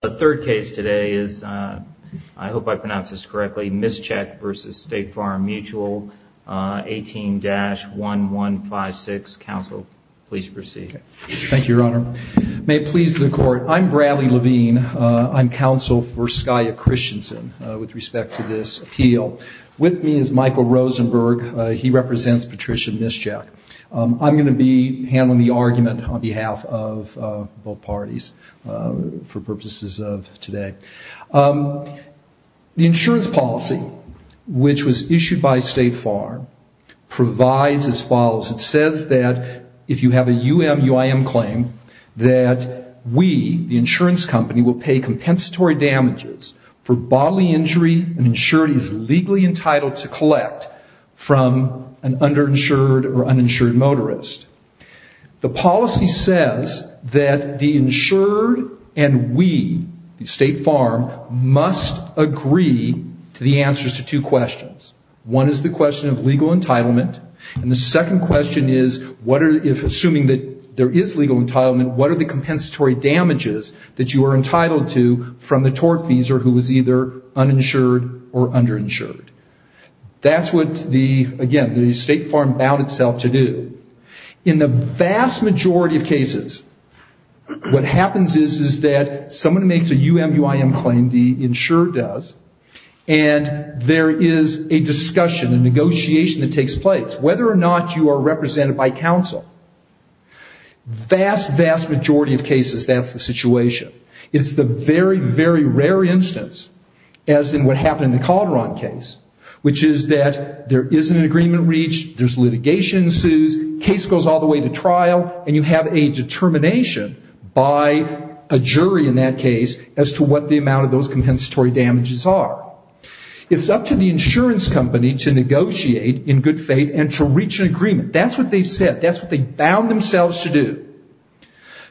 The third case today is, I hope I pronounce this correctly, Mischek v. State Farm Mutual, 18-1156. Counsel, please proceed. Thank you, Your Honor. May it please the Court, I'm Bradley Levine. I'm counsel for Skya Christensen with respect to this appeal. With me is Michael Rosenberg. He represents Patricia Mischek. I'm going to be handling the argument on behalf of both parties for purposes of today. The insurance policy, which was issued by State Farm, provides as follows. It says that if you have a UM-UIM claim that we, the insurance company, will pay compensatory damages for bodily injury an insured is legally motorist. The policy says that the insured and we, the State Farm, must agree to the answers to two questions. One is the question of legal entitlement, and the second question is, assuming that there is legal entitlement, what are the compensatory damages that you are entitled to from the tortfeasor who is either uninsured or underinsured? That's what, again, the State Farm vowed itself to do. In the vast majority of cases, what happens is that someone makes a UM-UIM claim, the insurer does, and there is a discussion, a negotiation that takes place, whether or not you are represented by counsel. Vast, vast majority of cases, that's the situation. It's the very, very rare instance, as in what happened in the Calderon case, which is that there isn't an agreement reached, there's litigation ensues, case goes all the way to trial, and you have a determination by a jury in that case as to what the amount of those compensatory damages are. It's up to the insurance company to negotiate in good faith and to reach an agreement. That's what they said. That's what they bound themselves to do.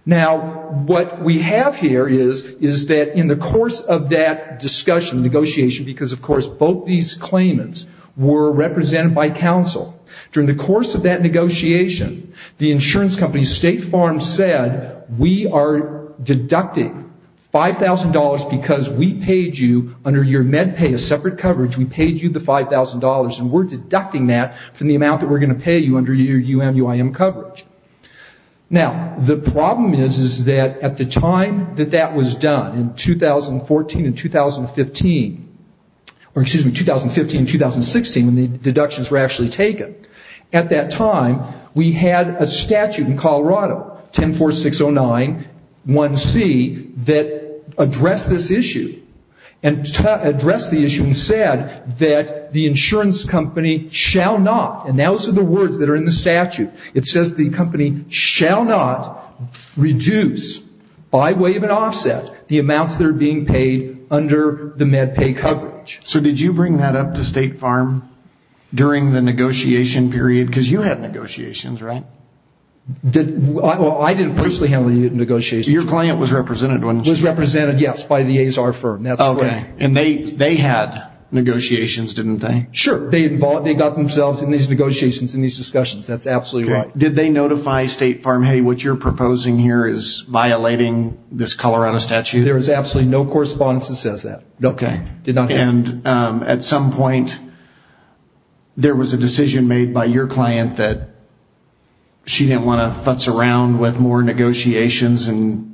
Now, what we have here is that in the course of that discussion, negotiation, because, of course, both these claimants were represented by counsel. During the course of that negotiation, the insurance company, State Farm, said, we are deducting $5,000 because we paid you under your MedPay, a separate coverage, we paid you the $5,000, and we're deducting that from the amount that we're going to pay you under your UM-UIM coverage. Now, the problem is that at the time that that was done, in 2014 and 2015, or excuse me, 2015 and 2016, when the deductions were actually taken, at that time, we had a statute in Colorado, 10-4-6-0-9-1-C, that addressed this issue and said that the insurance company shall not, and those are the words that are in the statute. It says the company shall not reduce, by way of an offset, the amounts that are being paid under the MedPay coverage. So did you bring that up to State Farm during the negotiation period? Because you had negotiations, right? Well, I didn't personally handle the negotiations. Your client was represented, wasn't she? Was represented, yes, by the Azar firm. And they had negotiations, didn't they? Sure. They got themselves in these negotiations and these discussions. That's absolutely right. Did they notify State Farm, hey, what you're proposing here is violating this Colorado statute? There was absolutely no correspondence that says that. Okay. And at some point, there was a decision made by your client that she didn't want to futz around with more negotiations and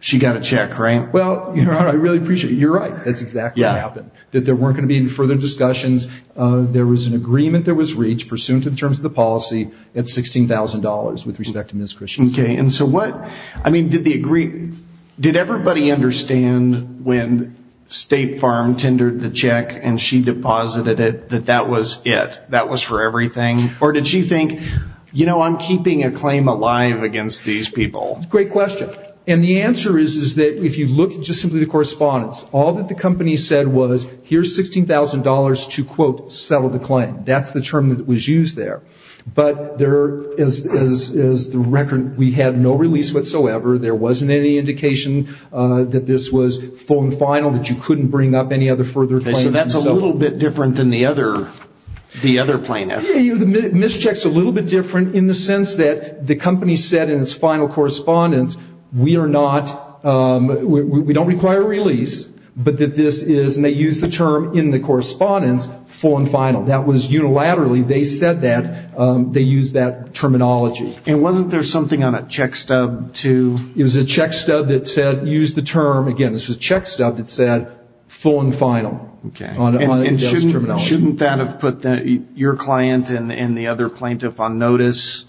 she got a check, right? Well, I really appreciate it. You're right. That's exactly what happened. That there weren't going to be any further discussions. There was an agreement that was reached pursuant to the terms of the policy at $16,000 with respect to Ms. Christensen. Okay. And so what, I mean, did everybody understand when State Farm tendered the check and she deposited it that that was it? That was for everything? Or did she think, you know, I'm keeping a claim alive against these people? Great question. And the answer is that if you look at just simply the correspondence, all that the company said was, here's $16,000 to, quote, settle the claim. That's the term that was used there. But there, as the record, we had no release whatsoever. There wasn't any indication that this was full and final, that you couldn't bring up any other further claims. Okay. So that's a little bit different than the other plaintiffs. Yeah, the mischeck's a little bit different in the sense that the company said in its final correspondence, we are not, we don't require a release, but that this is, and they used the term in the correspondence, full and final. That was unilaterally, they said that, they used that terminology. And wasn't there something on a check stub to? It was a check stub that said, used the term, again, this was a check stub that said, full and final. Okay. And shouldn't that have put your client and the other plaintiff on notice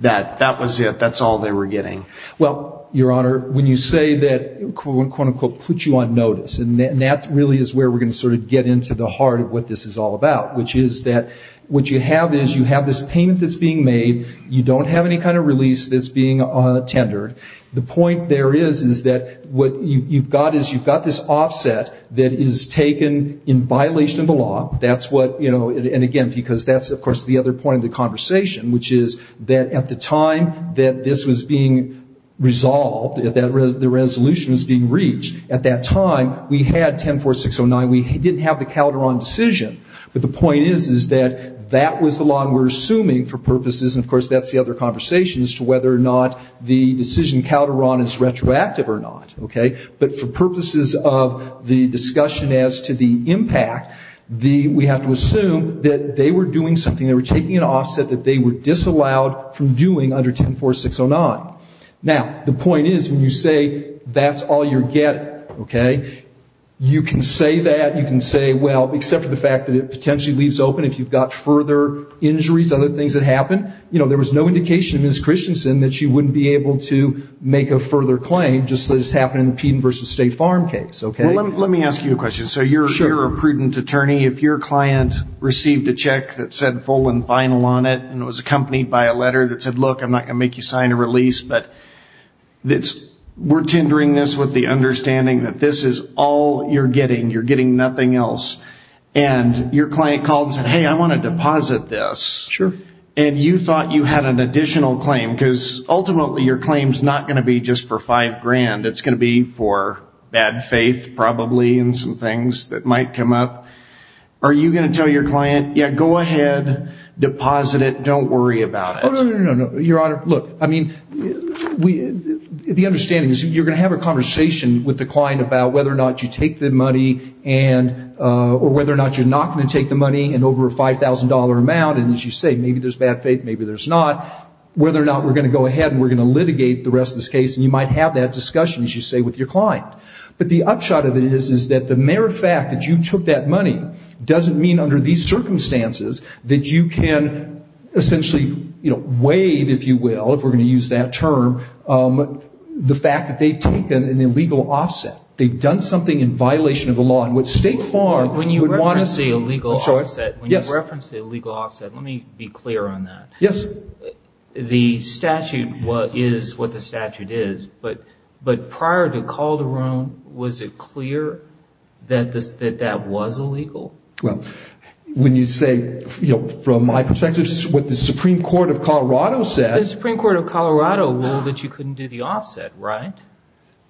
that that was it, that's all they were getting? Well, Your Honor, when you say that, quote, unquote, put you on notice, and that really is where we're going to sort of get into the heart of what this is all about, which is that what you have is you have this payment that's being made. You don't have any kind of release that's being tendered. The point there is, is that what you've got is you've got this offset that is taken in violation of the law. That's what, you know, and again, because that's, of course, the other point of the conversation, which is that at the time that this was being resolved, that the resolution was being reached, at that time we had 10-4609. We didn't have the Calderon decision. But the point is, is that that was the law, and we're assuming for purposes, and of course that's the other conversation as to whether or not the decision Calderon is retroactive or not, okay? But for purposes of the discussion as to the impact, we have to assume that they were doing something, they were taking an offset that they were disallowed from doing under 10-4609. Now, the point is, when you say that's all you're getting, okay, you can say that. You can say, well, except for the fact that it potentially leaves open if you've got further injuries, other things that happen, you know, there was no indication, Ms. Christensen, that you wouldn't be able to make a further claim just as happened in the Peden v. State Farm case, okay? Well, let me ask you a question. So you're a prudent attorney. If your client received a check that said full and final on it and it was accompanied by a letter that said, look, I'm not going to make you sign a release, but we're tendering this with the understanding that this is all you're getting. You're getting nothing else. And your client called and said, hey, I want to deposit this. Sure. And you thought you had an additional claim because ultimately your claim is not going to be just for five grand. It's going to be for bad faith probably and some things that might come up. Are you going to tell your client, yeah, go ahead, deposit it, don't worry about it? Oh, no, no, no, no, no. Your Honor, look, I mean, the understanding is you're going to have a conversation with the client about whether or not you take the money and or whether or not you're not going to take the money in over a $5,000 amount, and as you say, maybe there's bad faith, maybe there's not, whether or not we're going to go ahead and we're going to litigate the rest of this case. And you might have that discussion, as you say, with your client. But the upshot of it is that the mere fact that you took that money doesn't mean under these circumstances that you can essentially waive, if you will, if we're going to use that term, the fact that they've taken an illegal offset. They've done something in violation of the law. And what State Farm would want us to... When you reference the illegal offset, let me be clear on that. Yes. The statute is what the statute is, but prior to Calderon, was it clear that that was illegal? Well, when you say, from my perspective, what the Supreme Court of Colorado said... The Supreme Court of Colorado ruled that you couldn't do the offset, right?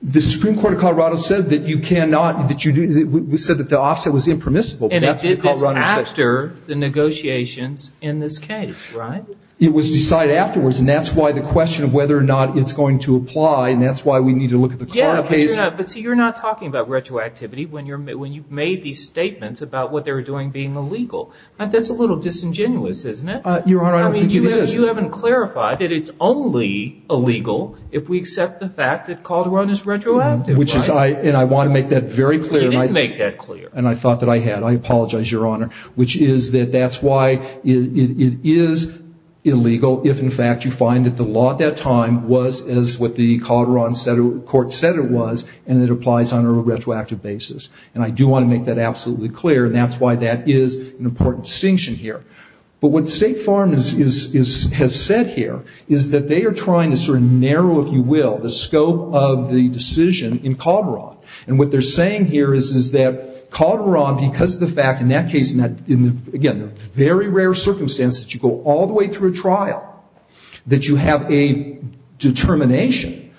The Supreme Court of Colorado said that you cannot, that you do, we said that the offset was impermissible. And it did this after the negotiations in this case, right? It was decided afterwards, and that's why the question of whether or not it's going to apply, and that's why we need to look at the... Yeah, but you're not talking about retroactivity when you've made these statements about what they were doing being illegal. That's a little disingenuous, isn't it? Your Honor, I don't think it is. You haven't clarified that it's only illegal if we accept the fact that Calderon is retroactive. And I want to make that very clear. You didn't make that clear. And I thought that I had. I apologize, Your Honor, which is that that's why it is illegal if, in fact, you find that the law at that time was as what the Calderon court said it was, and it applies on a retroactive basis. And I do want to make that absolutely clear, and that's why that is an important distinction here. But what State Farm has said here is that they are trying to sort of narrow, if you will, the scope of the decision in Calderon. And what they're saying here is that Calderon, because of the fact, in that case, again, a very rare circumstance that you go all the way through a trial, that you have a determination,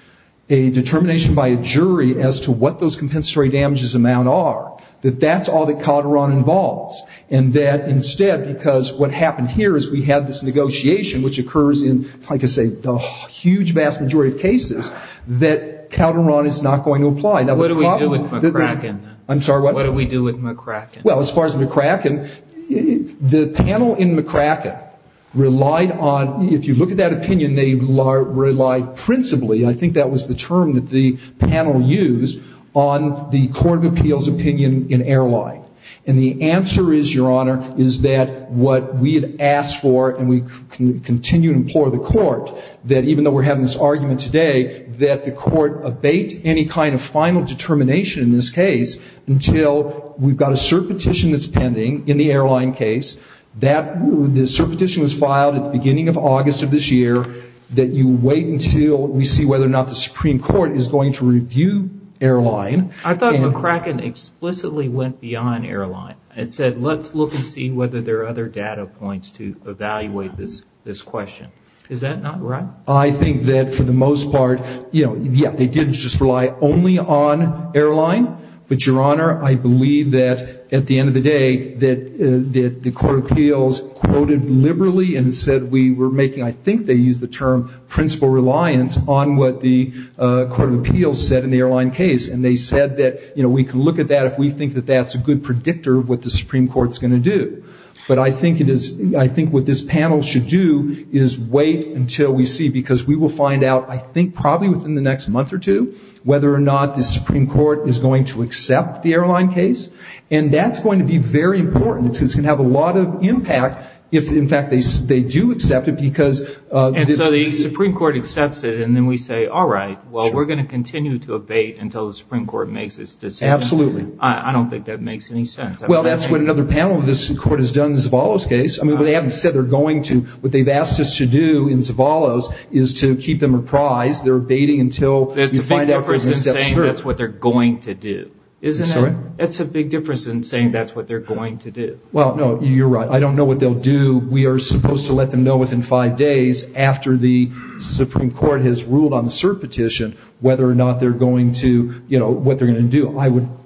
a determination by a jury as to what those compensatory damages amount are, that that's all that Calderon involves. And that, instead, because what happened here is we had this negotiation, which occurs in, like I say, the huge vast majority of cases, that Calderon is not going to apply. Now, what do we do with McCracken? I'm sorry, what? What do we do with McCracken? Well, as far as McCracken, the panel in McCracken relied on, if you look at that opinion, they relied principally, I think that was the term that the panel used, on the court of appeals opinion in airline. And the answer is, Your Honor, is that what we had asked for, and we continue to implore the court, that even though we're having this argument today, that the court abate any kind of final determination in this case, until we've got a cert petition that's pending in the airline case, that the cert petition was filed at the beginning of August of this year, that you wait until we see whether or not the Supreme Court is going to review airline. I thought McCracken explicitly went beyond airline. It said, let's look and see whether there are other data points to evaluate this question. Is that not right? I think that for the most part, you know, yeah, they did just rely only on airline. But, Your Honor, I believe that at the end of the day, that the court of appeals quoted liberally and said we were making, I think they used the term principal reliance, on what the court of appeals said in the airline case. And they said that, you know, we can look at that if we think that that's a good predictor of what the Supreme Court's going to do. But I think it is, I think what this panel should do is wait until we see, because we will find out, I think probably within the next month or two, whether or not the Supreme Court is going to accept the airline case. And that's going to be very important. It's going to have a lot of impact if, in fact, they do accept it, because... And so the Supreme Court accepts it, and then we say, all right, well, we're going to continue to abate until the Supreme Court makes its decision. Absolutely. I don't think that makes any sense. Well, that's what another panel of this court has done in Zavallo's case. I mean, they haven't said they're going to. What they've asked us to do in Zavallo's is to keep them apprised. They're abating until... It's a big difference in saying that's what they're going to do. Isn't it? Sorry? It's a big difference in saying that's what they're going to do. Well, no, you're right. I don't know what they'll do. We are supposed to let them know within five days after the Supreme Court has ruled on the cert petition whether or not they're going to, you know, what they're going to do.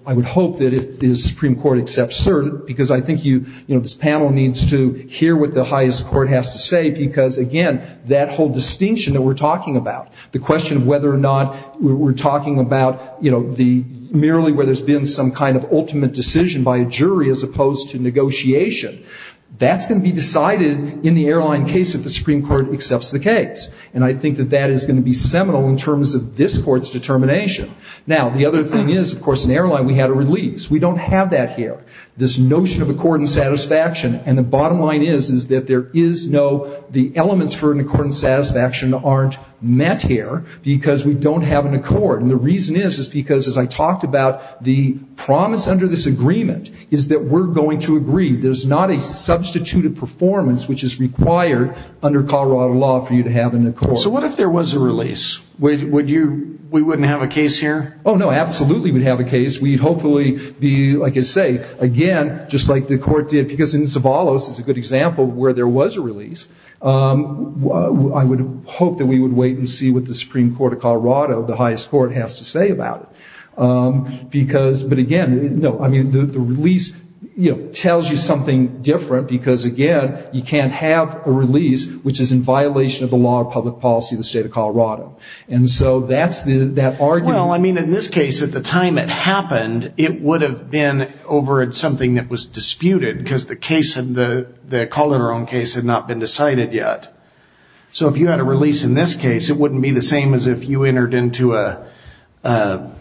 I would hope that if the Supreme Court accepts cert, because I think this panel needs to hear what the highest court has to say, because, again, that whole distinction that we're talking about, the question of whether or not we're talking about, you know, merely where there's been some kind of ultimate decision by a jury as opposed to negotiation, that's going to be decided in the airline case if the Supreme Court accepts the case. And I think that that is going to be seminal in terms of this court's determination. Now, the other thing is, of course, in airline we had a release. We don't have that here. This notion of accord and satisfaction, and the bottom line is that there is no... The elements for an accord and satisfaction aren't met here because we don't have an accord. And the reason is because, as I talked about, the promise under this agreement is that we're going to agree. There's not a substituted performance which is required under Colorado law for you to have an accord. So what if there was a release? Would you... We wouldn't have a case here? Oh, no, absolutely we'd have a case. We'd hopefully be, like I say, again, just like the court did, because in Zavallos is a good example of where there was a release. I would hope that we would wait and see what the Supreme Court of Colorado, the highest court, has to say about it. But, again, the release tells you something different because, again, you can't have a release which is in violation of the law of public policy in the state of Colorado. And so that's the argument. Well, I mean, in this case, at the time it happened, it would have been over something that was disputed because the Colorado case had not been decided yet. So if you had a release in this case, it wouldn't be the same as if you entered into a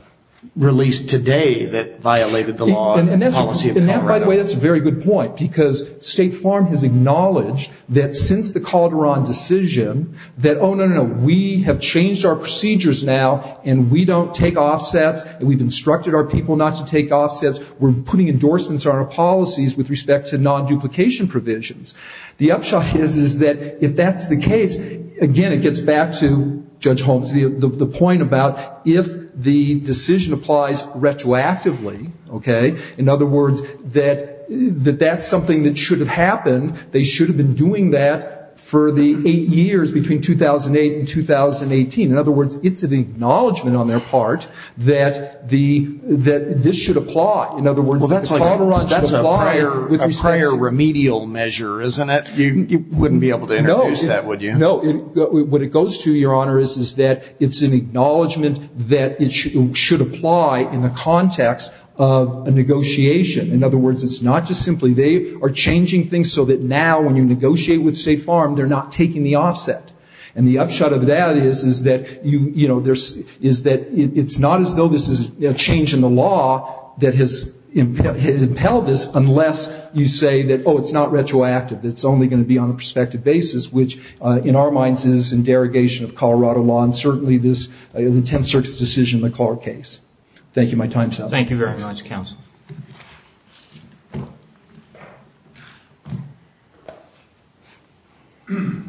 release today that violated the law of policy of Colorado. And that, by the way, that's a very good point, because State Farm has acknowledged that since the Calderon decision that, oh, no, no, no, we have changed our procedures now and we don't take offsets and we've instructed our people not to take offsets. We're putting endorsements on our policies with respect to non-duplication provisions. The upshot is that if that's the case, again, it gets back to Judge Holmes, the point about if the decision applies retroactively, okay, in other words, that that's something that should have happened, they should have been doing that for the eight years between 2008 and 2018. In other words, it's an acknowledgment on their part that this should apply. In other words, that the Colorado should apply with respect to them. It's a remedial measure, isn't it? You wouldn't be able to introduce that, would you? No. What it goes to, Your Honor, is that it's an acknowledgment that it should apply in the context of a negotiation. In other words, it's not just simply they are changing things so that now when you negotiate with State Farm, they're not taking the offset. And the upshot of that is that, you know, Oh, it's not retroactive. It's only going to be on a prospective basis, which in our minds is in derogation of Colorado law and certainly this intense search decision in the Clark case. Thank you, my time is up. Thank you very much, Counsel. May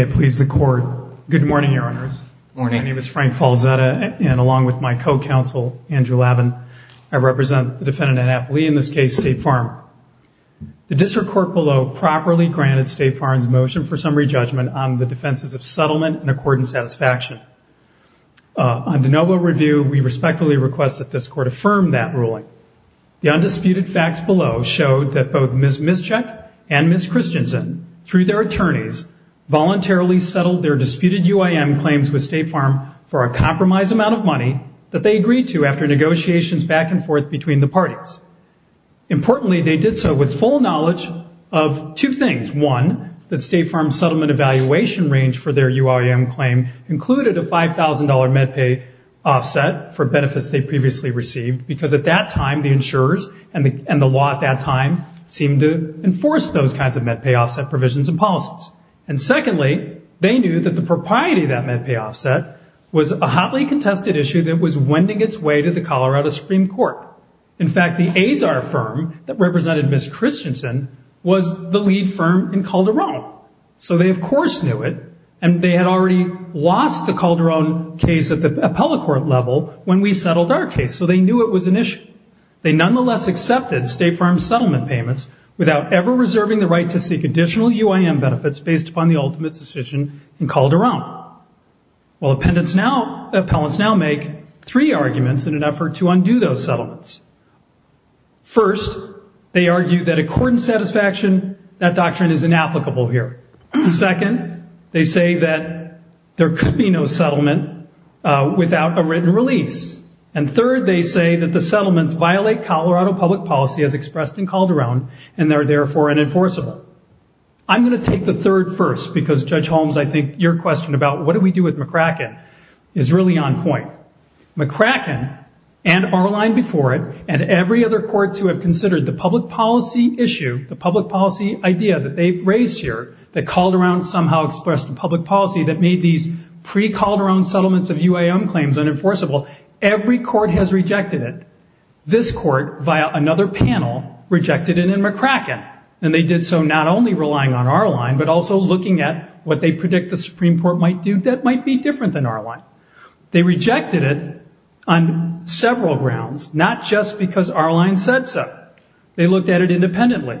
it please the Court. Good morning, Your Honors. Good morning. My name is Frank Falzetta, and along with my co-counsel, Andrew Lavin, I represent the defendant in that plea, in this case, State Farm. The district court below properly granted State Farm's motion for summary judgment on the defenses of settlement and accordance satisfaction. On de novo review, we respectfully request that this Court affirm that ruling. The undisputed facts below showed that both Ms. Mischeck and Ms. Christensen, through their attorneys, voluntarily settled their disputed UIM claims with State Farm for a compromised amount of money that they agreed to after negotiations back and forth between the parties. Importantly, they did so with full knowledge of two things. One, that State Farm's settlement evaluation range for their UIM claim included a $5,000 MedPay offset for benefits they previously received because at that time, the insurers and the law at that time seemed to enforce those kinds of MedPay offset provisions and policies. And secondly, they knew that the propriety of that MedPay offset was a hotly contested issue that was wending its way to the Colorado Supreme Court. In fact, the Azar firm that represented Ms. Christensen was the lead firm in Calderon. So they, of course, knew it, and they had already lost the Calderon case at the appellate court level when we settled our case, so they knew it was an issue. They nonetheless accepted State Farm's settlement payments without ever reserving the right to seek additional UIM benefits based upon the ultimate decision in Calderon. Well, appellants now make three arguments in an effort to undo those settlements. First, they argue that according to satisfaction, that doctrine is inapplicable here. Second, they say that there could be no settlement without a written release. And third, they say that the settlements violate Colorado public policy as expressed in Calderon and are therefore unenforceable. I'm going to take the third first because, Judge Holmes, I think your question about what do we do with McCracken is really on point. McCracken and our line before it and every other court to have considered the public policy issue, the public policy idea that they've raised here, that Calderon somehow expressed in public policy that made these pre-Calderon settlements of UIM claims unenforceable, every court has rejected it. This court, via another panel, rejected it in McCracken. And they did so not only relying on our line but also looking at what they predict the Supreme Court might do that might be different than our line. They rejected it on several grounds, not just because our line said so. They looked at it independently.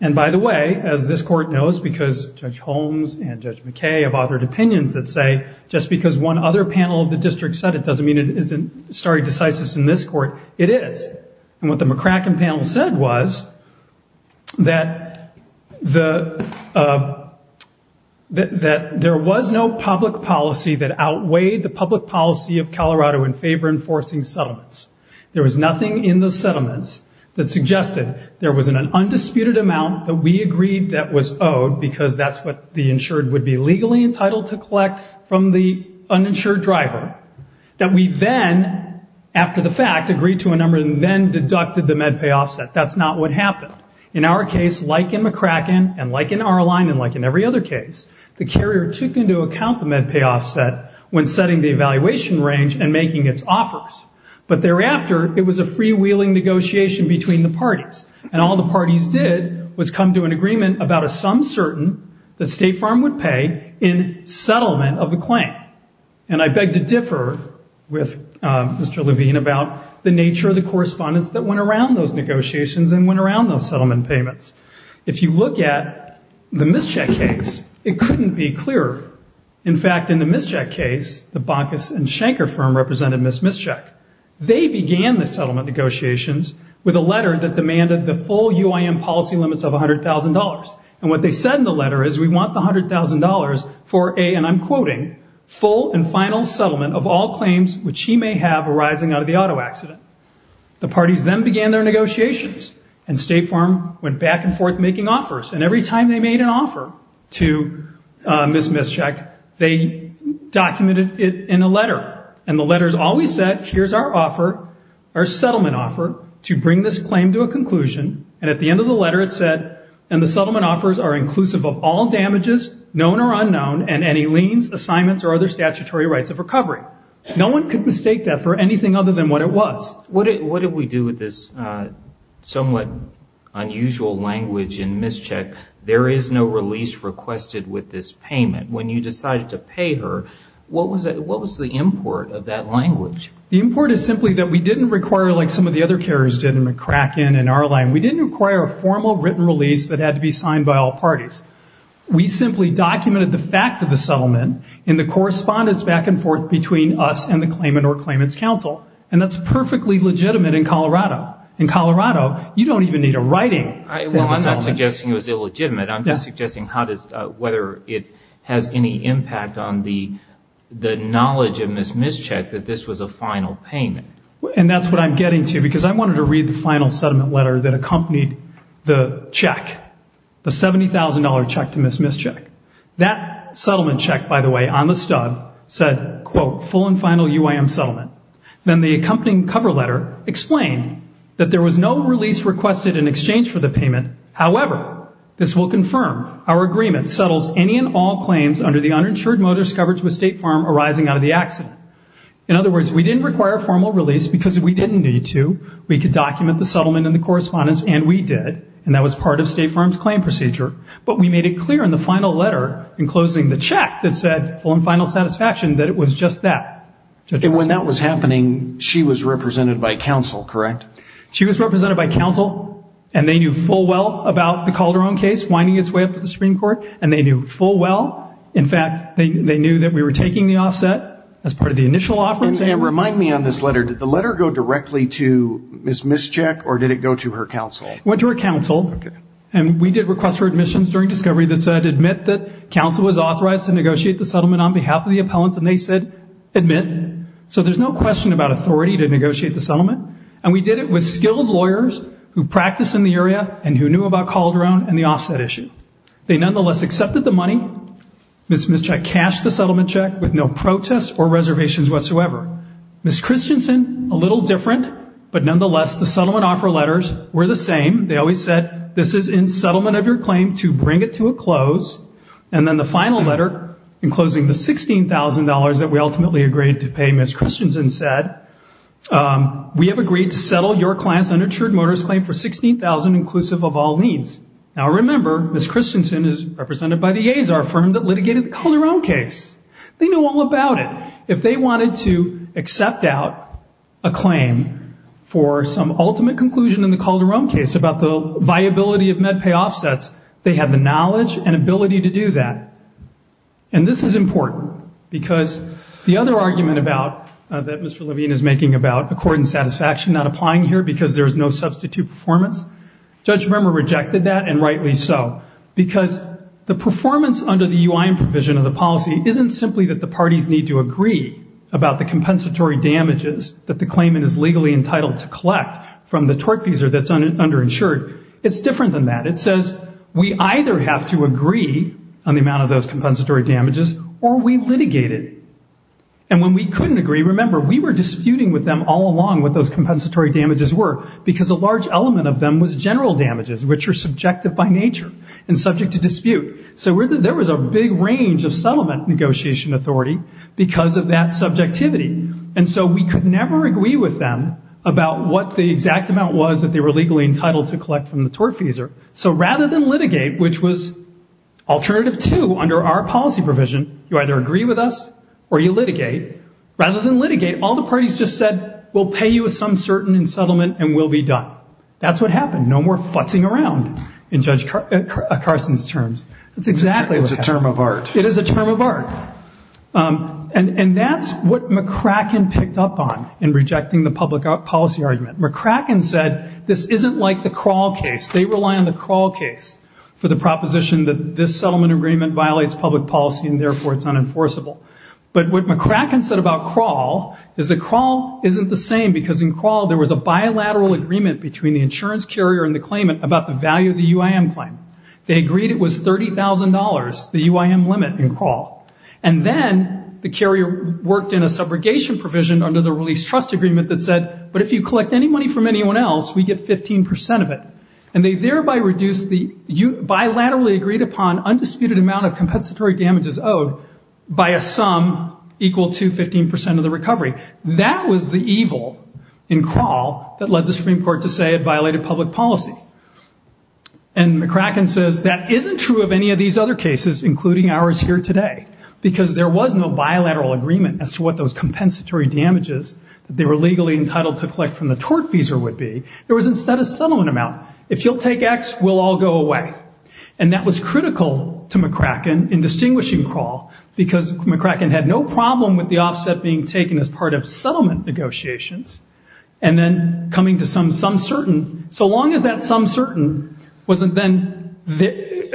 And by the way, as this court knows because Judge Holmes and Judge McKay have authored opinions that say just because one other panel of the district said it doesn't mean it isn't stare decisis in this court, it is. And what the McCracken panel said was that there was no public policy that outweighed the public policy of Colorado in favor of enforcing settlements. There was nothing in the settlements that suggested there was an undisputed amount that we agreed that was owed because that's what the insured would be legally entitled to collect from the uninsured driver, that we then, after the fact, agreed to a number and then deducted the MedPay offset. That's not what happened. In our case, like in McCracken and like in our line and like in every other case, the carrier took into account the MedPay offset when setting the evaluation range and making its offers. But thereafter, it was a freewheeling negotiation between the parties. And all the parties did was come to an agreement about a sum certain that State Farm would pay in settlement of the claim. And I beg to differ with Mr. Levine about the nature of the correspondence that went around those negotiations and went around those settlement payments. If you look at the mischeck case, it couldn't be clearer. In fact, in the mischeck case, the Bonkus and Schenker firm represented Ms. Mischeck. They began the settlement negotiations with a letter that demanded the full UIM policy limits of $100,000. And what they said in the letter is we want the $100,000 for a, and I'm quoting, full and final settlement of all claims which he may have arising out of the auto accident. The parties then began their negotiations and State Farm went back and forth making offers. And every time they made an offer to Ms. Mischeck, they documented it in a letter. And the letters always said, here's our offer, our settlement offer, to bring this claim to a conclusion. And at the end of the letter it said, and the settlement offers are inclusive of all damages, known or unknown, and any liens, assignments, or other statutory rights of recovery. No one could mistake that for anything other than what it was. What did we do with this somewhat unusual language in Mischeck? There is no release requested with this payment. When you decided to pay her, what was the import of that language? The import is simply that we didn't require, like some of the other carriers did in McCracken and Arline, we didn't require a formal written release that had to be signed by all parties. We simply documented the fact of the settlement in the correspondence back and forth between us and the claimant or claimant's counsel. And that's perfectly legitimate in Colorado. In Colorado, you don't even need a writing. Well, I'm not suggesting it was illegitimate. I'm just suggesting whether it has any impact on the knowledge of Ms. Mischeck that this was a final payment. And that's what I'm getting to because I wanted to read the final settlement letter that accompanied the check, the $70,000 check to Ms. Mischeck. That settlement check, by the way, on the stub said, quote, full and final UIM settlement. Then the accompanying cover letter explained that there was no release requested in exchange for the payment. However, this will confirm our agreement settles any and all claims under the uninsured motorist coverage with State Farm arising out of the accident. In other words, we didn't require a formal release because we didn't need to. We could document the settlement in the correspondence, and we did, and that was part of State Farm's claim procedure. But we made it clear in the final letter in closing the check that said full and final satisfaction that it was just that. And when that was happening, she was represented by counsel, correct? She was represented by counsel, and they knew full well about the Calderon case winding its way up to the Supreme Court, and they knew full well, in fact, they knew that we were taking the offset as part of the initial offer. And remind me on this letter, did the letter go directly to Ms. Mischeck, or did it go to her counsel? It went to her counsel, and we did request for admissions during discovery that said admit that counsel was authorized to negotiate the settlement on behalf of the appellants, and they said admit. So there's no question about authority to negotiate the settlement, and we did it with skilled lawyers who practice in the area and who knew about Calderon and the offset issue. They nonetheless accepted the money. Ms. Mischeck cashed the settlement check with no protests or reservations whatsoever. Ms. Christensen, a little different, but nonetheless the settlement offer letters were the same. They always said this is in settlement of your claim to bring it to a close, and then the final letter enclosing the $16,000 that we ultimately agreed to pay, Ms. Christensen said, we have agreed to settle your client's uninsured motorist claim for $16,000 inclusive of all liens. Now remember, Ms. Christensen is represented by the A's, our firm that litigated the Calderon case. They know all about it. If they wanted to accept out a claim for some ultimate conclusion in the Calderon case about the viability of MedPay offsets, they had the knowledge and ability to do that. And this is important because the other argument that Mr. Levine is making about accord and satisfaction not applying here because there's no substitute performance, Judge Rimmer rejected that, and rightly so, because the performance under the UIN provision of the policy isn't simply that the parties need to agree about the compensatory damages that the claimant is legally entitled to collect from the torque feeser that's underinsured. It's different than that. It says we either have to agree on the amount of those compensatory damages or we litigate it. And when we couldn't agree, remember, we were disputing with them all along what those compensatory damages were because a large element of them was general damages, which are subjective by nature and subject to dispute. So there was a big range of settlement negotiation authority because of that subjectivity. And so we could never agree with them about what the exact amount was that they were legally entitled to collect from the torque feeser. So rather than litigate, which was alternative two under our policy provision, you either agree with us or you litigate. Rather than litigate, all the parties just said we'll pay you some certain in settlement and we'll be done. That's what happened. No more futzing around in Judge Carson's terms. That's exactly what happened. It's a term of art. It is a term of art. And that's what McCracken picked up on in rejecting the public policy argument. McCracken said this isn't like the Kroll case. They rely on the Kroll case for the proposition that this settlement agreement violates public policy and, therefore, it's unenforceable. But what McCracken said about Kroll is that Kroll isn't the same because, in Kroll, there was a bilateral agreement between the insurance carrier and the claimant about the value of the UIM claim. They agreed it was $30,000, the UIM limit, in Kroll. And then the carrier worked in a subrogation provision under the release trust agreement that said, but if you collect any money from anyone else, we get 15% of it. And they thereby reduced the bilaterally agreed upon undisputed amount of compensatory damages owed by a sum equal to 15% of the recovery. That was the evil in Kroll that led the Supreme Court to say it violated public policy. And McCracken says that isn't true of any of these other cases, including ours here today, because there was no bilateral agreement as to what those compensatory damages that they were legally entitled to collect from the tort fees would be. There was instead a settlement amount. If you'll take X, we'll all go away. And that was critical to McCracken in distinguishing Kroll, because McCracken had no problem with the offset being taken as part of settlement negotiations. And then coming to some sum certain, so long as that sum certain wasn't then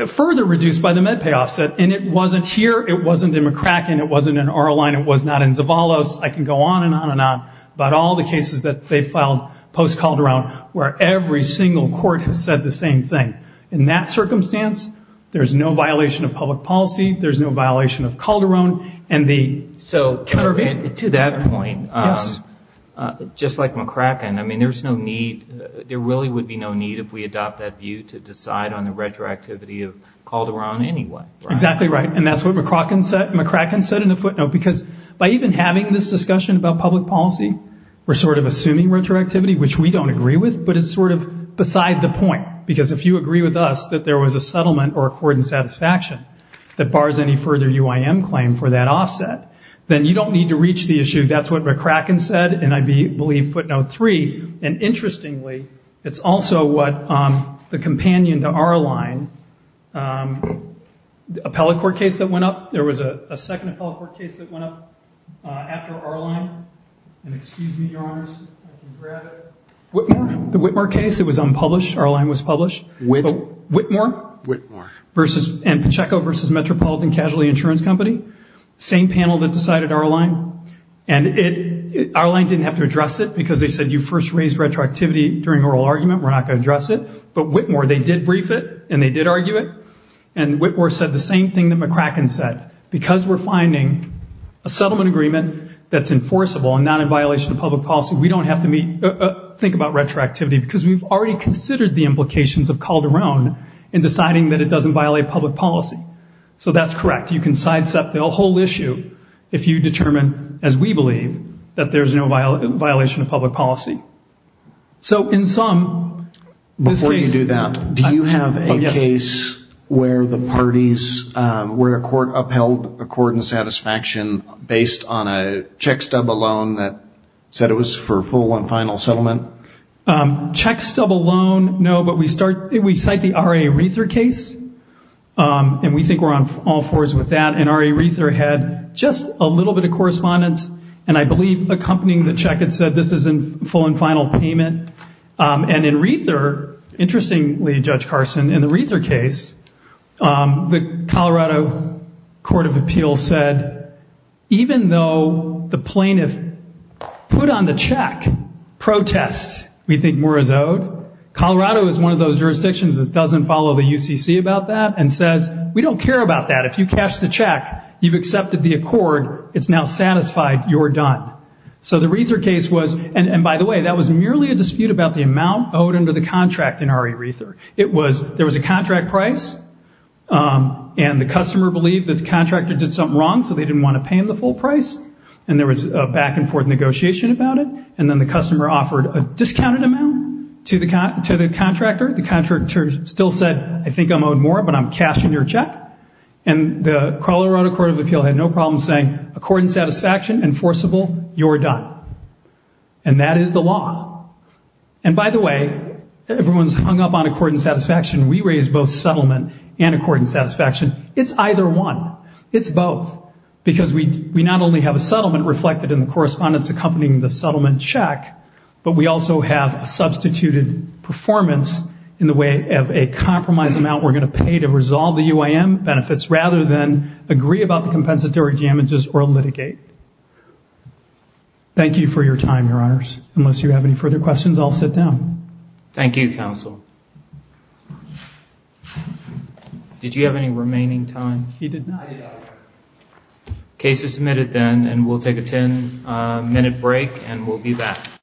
further reduced by the MedPay offset, and it wasn't here, it wasn't in McCracken, it wasn't in R-Line, it was not in Zavallos, I can go on and on and on about all the cases that they filed post-Calderon where every single court has said the same thing. In that circumstance, there's no violation of public policy, there's no violation of Calderon. So to that point, just like McCracken, I mean, there's no need, there really would be no need if we adopt that view to decide on the retroactivity of Calderon anyway. Exactly right, and that's what McCracken said in the footnote, because by even having this discussion about public policy, we're sort of assuming retroactivity, which we don't agree with, but it's sort of beside the point. Because if you agree with us that there was a settlement or a court in satisfaction that bars any further UIM claim for that offset, then you don't need to reach the issue. That's what McCracken said in, I believe, footnote three. And interestingly, it's also what the companion to R-Line, the appellate court case that went up, there was a second appellate court case that went up after R-Line. And excuse me, Your Honors, I can grab it. Whitmore? The Whitmore case, it was unpublished, R-Line was published. Which? Whitmore. Whitmore. And Pacheco versus Metropolitan Casualty Insurance Company, same panel that decided R-Line. And R-Line didn't have to address it, because they said you first raised retroactivity during oral argument, we're not going to address it. But Whitmore, they did brief it, and they did argue it. And Whitmore said the same thing that McCracken said. Because we're finding a settlement agreement that's enforceable and not in violation of public policy, we don't have to think about retroactivity, because we've already considered the implications of Calderon in deciding that it doesn't violate public policy. So that's correct. You can sidestep the whole issue if you determine, as we believe, that there's no violation of public policy. So in sum, this case. Before you do that, do you have a case where the parties, where a court upheld a court in satisfaction based on a check stub alone that said it was for full and final settlement? Check stub alone, no, but we cite the R.A. Reether case, and we think we're on all fours with that. And R.A. Reether had just a little bit of correspondence, and I believe accompanying the check it said this is in full and final payment. And in Reether, interestingly, Judge Carson, in the Reether case, the Colorado Court of Appeals said, even though the plaintiff put on the check protests, we think more is owed. Colorado is one of those jurisdictions that doesn't follow the UCC about that and says, we don't care about that. If you cash the check, you've accepted the accord, it's now satisfied, you're done. So the Reether case was, and by the way, that was merely a dispute about the amount owed under the contract in R.A. Reether. There was a contract price, and the customer believed that the contractor did something wrong, so they didn't want to pay him the full price, and there was a back and forth negotiation about it. And then the customer offered a discounted amount to the contractor. The contractor still said, I think I'm owed more, but I'm cashing your check. And the Colorado Court of Appeals had no problem saying, accord and satisfaction, enforceable, you're done. And that is the law. And by the way, everyone's hung up on accord and satisfaction. We raise both settlement and accord and satisfaction. It's either one. It's both. Because we not only have a settlement reflected in the correspondence accompanying the settlement check, but we also have a substituted performance in the way of a compromised amount we're going to pay to resolve the UAM benefits, rather than agree about the compensatory damages or litigate. Thank you for your time, Your Honors. Unless you have any further questions, I'll sit down. Thank you, Counsel. Did you have any remaining time? He did not. I did not. Case is submitted then, and we'll take a ten-minute break, and we'll be back.